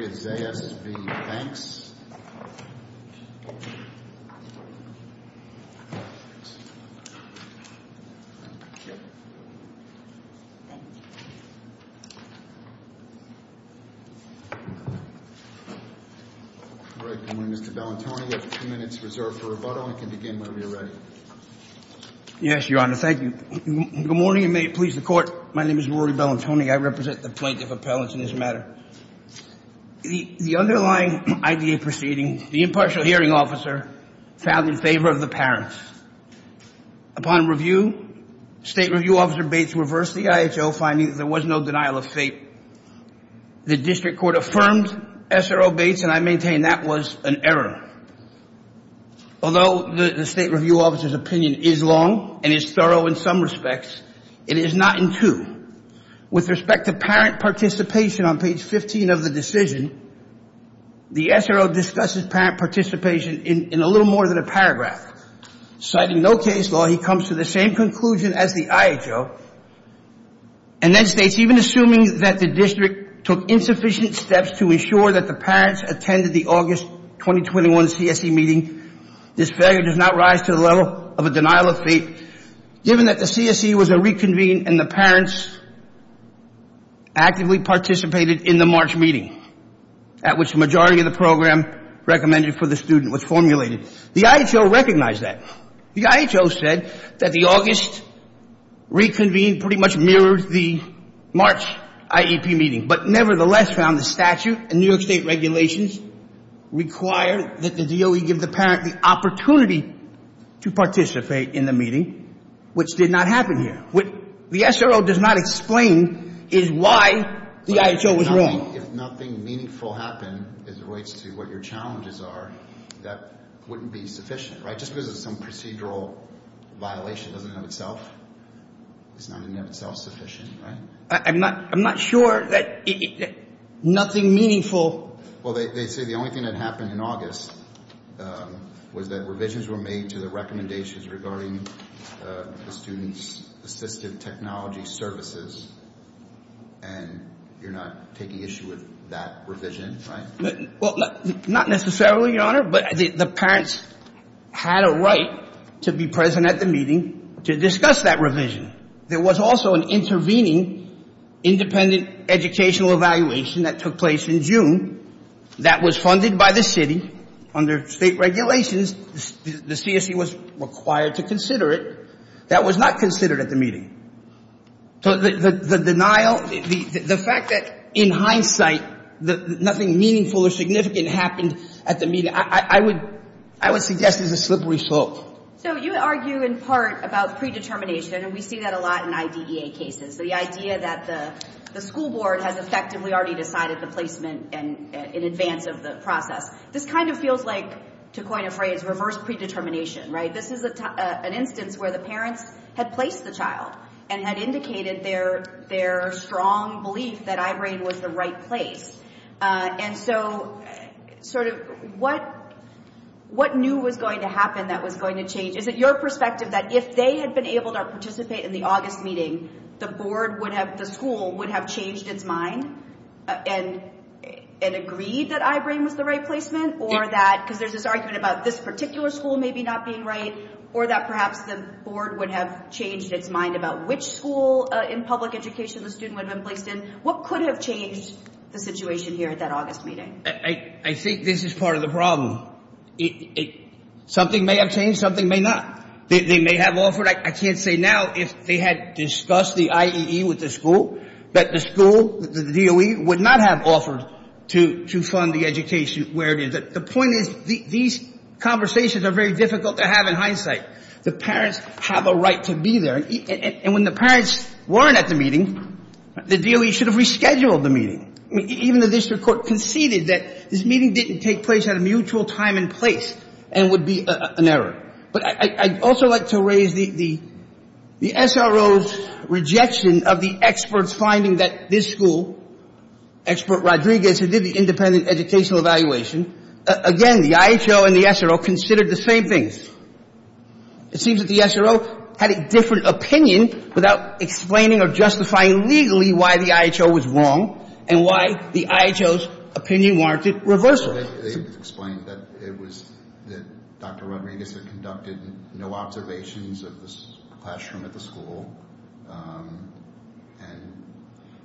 Good morning, Mr. Bellantoni. We have two minutes reserved for rebuttal. You can begin whenever you're ready. Yes, Your Honor. Thank you. Good morning and may it please the Court. My name is Rory Bellantoni. I represent the Plaintiff Appellants in this matter. The underlying I.D.A. proceeding, the impartial hearing officer found in favor of the parents. Upon review, State Review Officer Bates reversed the I.H.O. finding that there was no denial of fate. The District Court affirmed S.R.O. Bates and I maintain that was an error. Although the State Review Officer's opinion is long and is thorough in some respects, it is not in two. With respect to parent participation on page 15 of the decision, the S.R.O. discusses parent participation in a little more than a paragraph. Citing no case law, he comes to the same conclusion as the I.H.O. and then states, even assuming that the District took insufficient steps to ensure that the parents attended the August 2021 CSE meeting, this failure does not rise to the level of a denial of fate, given that the CSE was a reconvene and the parents actively participated in the March meeting at which the majority of the program recommended for the student was formulated. The I.H.O. recognized that. The I.H.O. said that the August reconvene pretty much mirrored the March IEP meeting, but nevertheless found the statute and New York State regulations require that the DOE give the parent the opportunity to participate in the meeting, which did not happen here. What the S.R.O. does not explain is why the I.H.O. was wrong. If nothing meaningful happened as it relates to what your challenges are, that wouldn't be sufficient, right? Just because it's some procedural violation doesn't mean in and of itself, it's not in and of itself sufficient, right? I'm not, I'm not sure that nothing meaningful. Well, they say the only thing that happened in August was that revisions were made to the recommendations regarding the student's assistive technology services, and you're not taking issue with that revision, right? Well, not necessarily, Your Honor, but the parents had a right to be present at the meeting to discuss that revision. There was also an intervening independent educational evaluation that took place in June that was funded by the City under State regulations. The CSE was required to consider it. That was not considered at the meeting. So the denial, the fact that in hindsight nothing meaningful or significant happened at the meeting, I would suggest is a slippery slope. So you argue in part about predetermination, and we see that a lot in IDEA cases. The idea that the school board has effectively already decided the placement in advance of the process. This kind of feels like, to coin a phrase, reverse predetermination, right? This is an instance where the parents had placed the child and had indicated their strong belief that I-BRAIN was the right place. And so, sort of, what new was going to happen that was going to change? Is it your perspective that if they had been able to participate in the August meeting, the school would have changed its mind and agreed that I-BRAIN was the right placement? Or that, because there's this argument about this particular school maybe not being right, or that perhaps the board would have changed its mind about which school in public education the student would have been placed in? What could have changed the situation here at that August meeting? I think this is part of the problem. Something may have changed, something may not. They may have offered, I can't say now if they had discussed the IEE with the school, that the school, the DOE, would not have offered to fund the education where it is. The point is, these conversations are very difficult to have in hindsight. The parents have a right to be there. And when the parents weren't at the meeting, the DOE should have rescheduled the meeting. Even the district court conceded that this meeting didn't take place at a mutual time and place and would be an error. But I'd also like to raise the SRO's rejection of the experts finding that this school, expert Rodriguez, who did the independent educational evaluation, again, the IHO and the SRO considered the same things. It seems that the SRO had a different opinion without explaining or justifying legally why the IHO was wrong and why the IHO's opinion warranted reversal. They explained that it was, that Dr. Rodriguez had conducted no observations of the classroom at the school, and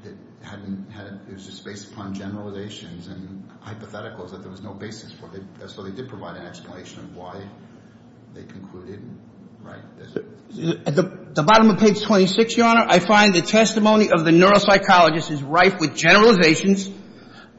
it hadn't had, it was just based upon generalizations and hypotheticals that there was no basis for. So they did provide an explanation of why they concluded, right? At the bottom of page 26, Your Honor, I find the testimony of the neuropsychologist is rife with generalizations,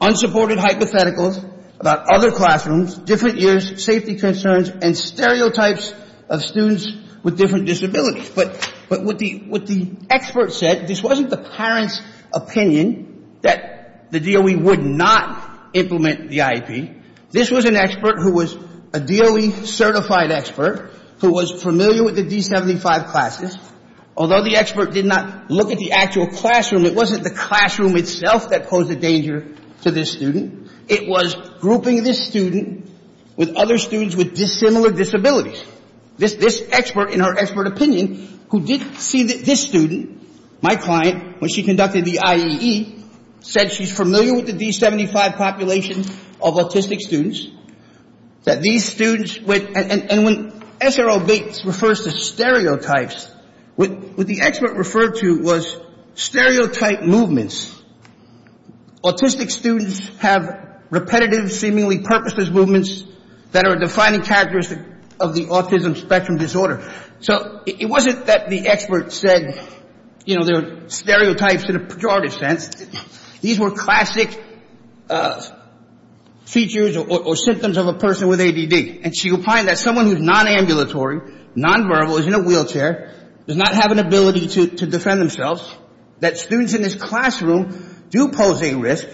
unsupported hypotheticals about other classrooms, different years, safety concerns, and stereotypes of students with different disabilities. But what the expert said, this wasn't the parent's opinion that the DOE would not implement the IEP. This was an expert who was a DOE-certified expert who was familiar with the D-75 classes. Although the expert did not look at the actual classroom, it wasn't the classroom itself that posed a danger to this student. It was grouping this student with other students with dissimilar disabilities. This expert, in her expert opinion, who did see that this student, my client, when she conducted the IEE, said she's familiar with the D-75 population of autistic students, that these students with, and when S.R.O. Bates refers to stereotypes, what the expert referred to was stereotype movements. Autistic students have repetitive, seemingly purposeless movements that are a defining characteristic of the autism spectrum disorder. So it wasn't that the expert said, you know, there were stereotypes in a pejorative sense. These were classic features or symptoms of a person with ADD. And she opined that someone who's nonambulatory, nonverbal, is in a wheelchair, does not have an ability to defend themselves, that students in the classroom do pose a risk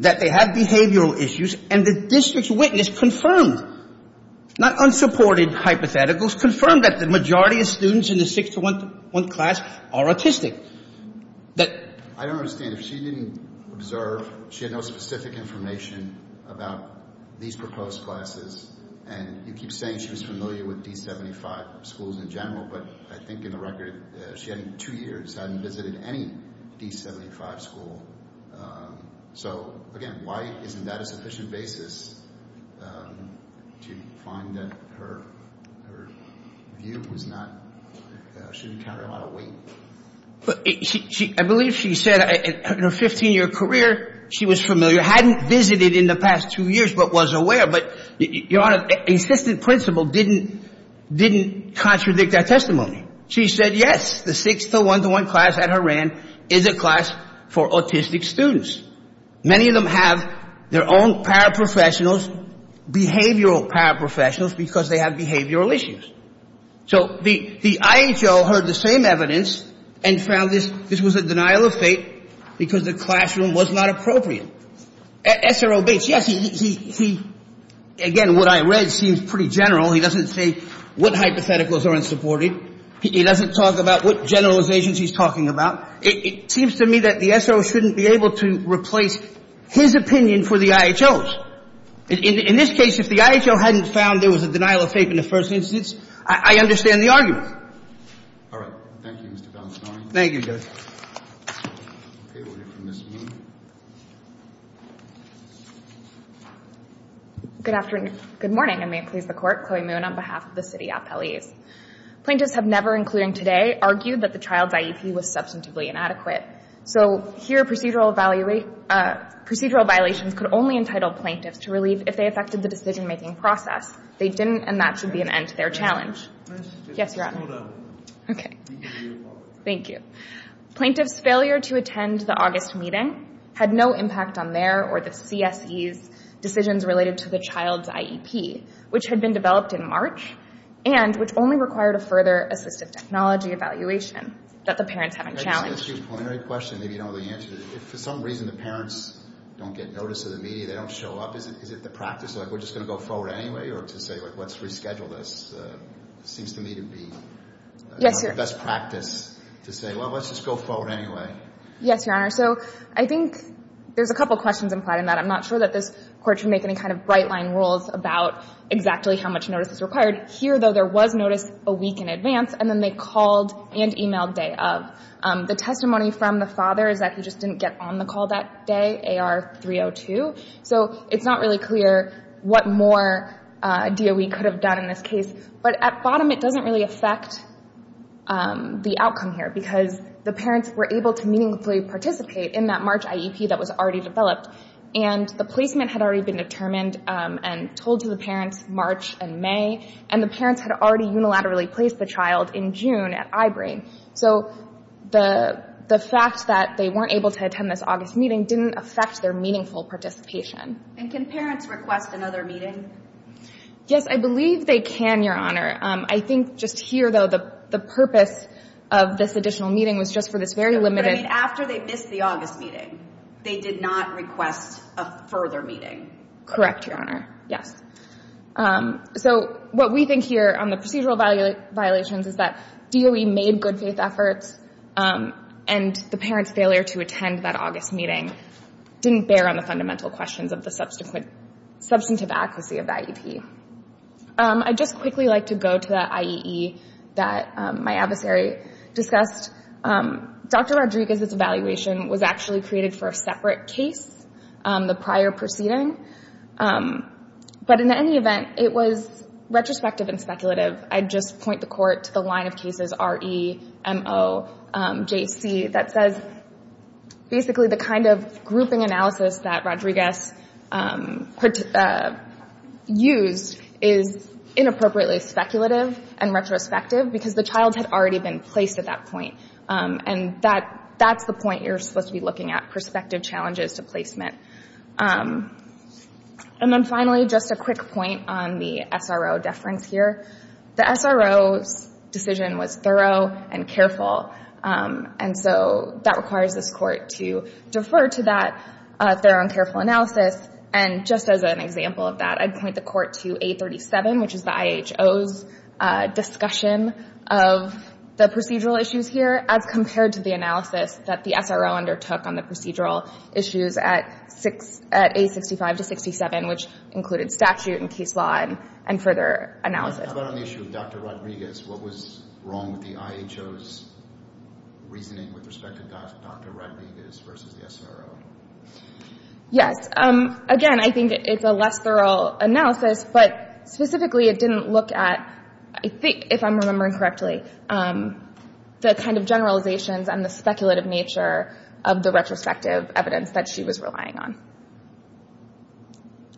that they have behavioral issues, and the district's witness confirmed, not unsupported hypotheticals, confirmed that the majority of students in the 6-1 class are autistic. I don't understand. If she didn't observe, she had no specific information about these proposed classes, and you keep saying she was familiar with D-75 schools in general, but I think in the record, she had two years, hadn't visited any D-75 school. So again, why isn't that a sufficient basis to find that her view was not, she didn't carry a lot of weight? But I believe she said in her 15-year career, she was familiar, hadn't visited in the past two years, but was aware. But, Your Honor, insistent principle didn't contradict that testimony. She said, yes, the 6-1 class at Horan is a class for autistic students. Many of them have their own paraprofessionals, behavioral paraprofessionals, because they have behavioral issues. So the IHO heard the same evidence and found this was a denial of faith because the was not appropriate. SRO Bates, yes, he, again, what I read seems pretty general. He doesn't say what hypotheticals are unsupported. He doesn't talk about what generalizations he's talking about. It seems to me that the SRO shouldn't be able to replace his opinion for the IHO's. In this case, if the IHO hadn't found there was a denial of faith in the first instance, I understand the argument. All right. Thank you, Mr. Valenzuela. Thank you, Judge. Good afternoon. Good morning. I may please the Court. Chloe Moon on behalf of the City Appellees. Plaintiffs have never, including today, argued that the child's IEP was substantively inadequate. So here, procedural violations could only entitle plaintiffs to relieve if they affected the decision-making process. They didn't, and that should be an end to their challenge. Yes, Your Honor. Okay. Thank you. Plaintiffs' failure to attend the August meeting had no impact on their or the CSE's decisions related to the child's IEP, which had been developed in March and which only required a further assistive technology evaluation that the parents haven't challenged. Just to ask you a pointer question, maybe you don't know the answer. If, for some reason, the parents don't get notice of the media, they don't show up, is it the practice, like we're just going to go forward anyway, or to say, like, let's reschedule this seems to me to be the best practice to say, well, let's just go forward anyway? Yes, Your Honor. So I think there's a couple questions implied in that. I'm not sure that this Court should make any kind of bright-line rules about exactly how much notice is required. Here, though, there was notice a week in advance, and then they called and emailed day of. The testimony from the father is that he just didn't get on the call that day, AR 302. So it's not really clear what more DOE could have done in this case. But at bottom, it doesn't really affect the outcome here, because the parents were able to meaningfully participate in that March IEP that was already developed, and the placement had already been determined and told to the parents March and May, and the parents had already unilaterally placed the child in June at I-Brain. So the fact that they weren't able to attend this August meeting didn't affect their meaningful participation. And can parents request another meeting? Yes, I believe they can, Your Honor. I think just here, though, the purpose of this additional meeting was just for this very limited... But I mean, after they missed the August meeting, they did not request a further meeting? Correct, Your Honor. Yes. So what we think here on the procedural violations is that DOE made good-faith efforts, and the parents' failure to attend that August meeting didn't bear on the fundamental questions of the substantive adequacy of that IEP. I'd just quickly like to go to that IEE that my adversary discussed. Dr. Rodriguez's evaluation was actually created for a separate case, the prior proceeding. But in any event, it was retrospective and speculative. I'd just point the court to the line of cases R-E-M-O-J-C that says, basically, the kind of grouping analysis that Rodriguez used is inappropriately speculative and retrospective because the child had already been placed at that point. And that's the point you're supposed to be looking at, perspective challenges to placement. And then finally, just a quick point on the SRO deference here. The SRO's decision was thorough and careful. And so that requires this Court to defer to that thorough and careful analysis. And just as an example of that, I'd point the Court to A-37, which is the IHO's discussion of the procedural issues here as compared to the analysis that the SRO undertook on the procedural issues at A-65 to 67, which included statute and case law and further analysis. How about on the issue of Dr. Rodriguez? What was wrong with the IHO's reasoning with respect to Dr. Rodriguez versus the SRO? Yes. Again, I think it's a less thorough analysis. But specifically, it didn't look at, I think, if I'm remembering correctly, the kind of generalizations and the speculative nature of the retrospective evidence that she was relying on.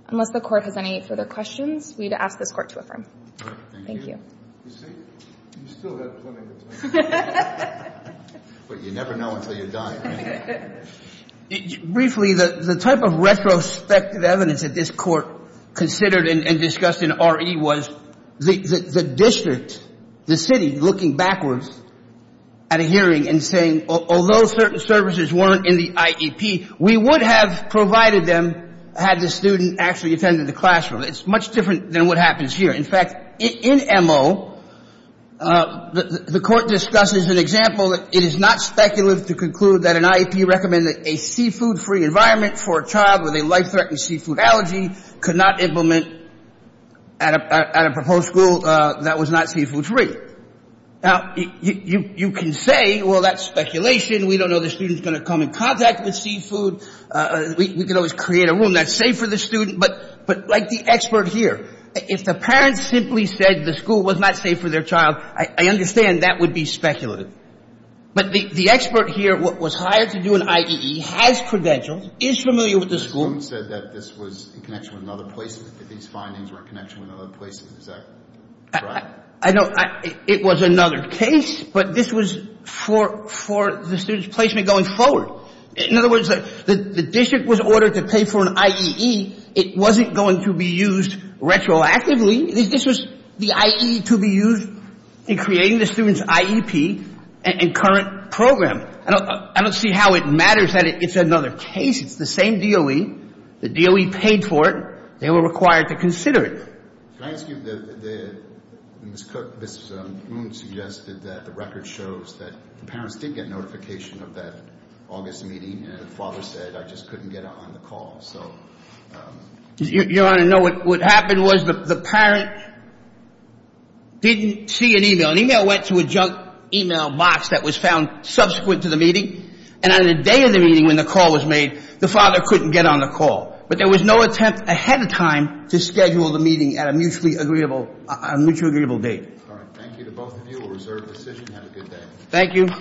Unless the Court has any further questions, we'd ask this Court to affirm. Thank you. You see, you still have plenty of time. But you never know until you're dying. Briefly, the type of retrospective evidence that this Court considered and discussed in R.E. was the district, the city, looking backwards at a hearing and saying, although certain services weren't in the IEP, we would have provided them had the student actually attended the classroom. It's much different than what happens here. In fact, in M.O., the Court discusses an example that it is not speculative to conclude that an IEP recommended a seafood-free environment for a child with a life-threatening seafood allergy could not implement at a proposed school that was not seafood-free. Now, you can say, well, that's speculation. We don't know the student's going to come in contact with seafood. We could always create a room that's safe for the student. But like the expert here, if the parents simply said the school was not safe for their child, I understand that would be speculative. But the expert here was hired to do an IEE, has credentials, is familiar with the school. The student said that this was in connection with another placement, that these findings were in connection with another placement. Is that correct? I know it was another case, but this was for the student's placement going forward. In other words, the district was ordered to pay for an IEE. It wasn't going to be used retroactively. This was the IEE to be used in creating the student's IEP and current program. I don't see how it matters that it's another case. It's the same DOE. The DOE paid for it. They were required to consider it. Can I ask you, Ms. Cook, Ms. Moon suggested that the record shows that the parents did get notification of that August meeting, and the father said, I just couldn't get it on the call. Your Honor, no, what happened was the parent didn't see an email. An email went to a junk box that was found subsequent to the meeting, and on the day of the meeting when the call was made, the father couldn't get on the call. But there was no attempt ahead of time to schedule the meeting at a mutually agreeable date. All right. Thank you to both of you. We'll reserve the decision. Have a good day. Thank you.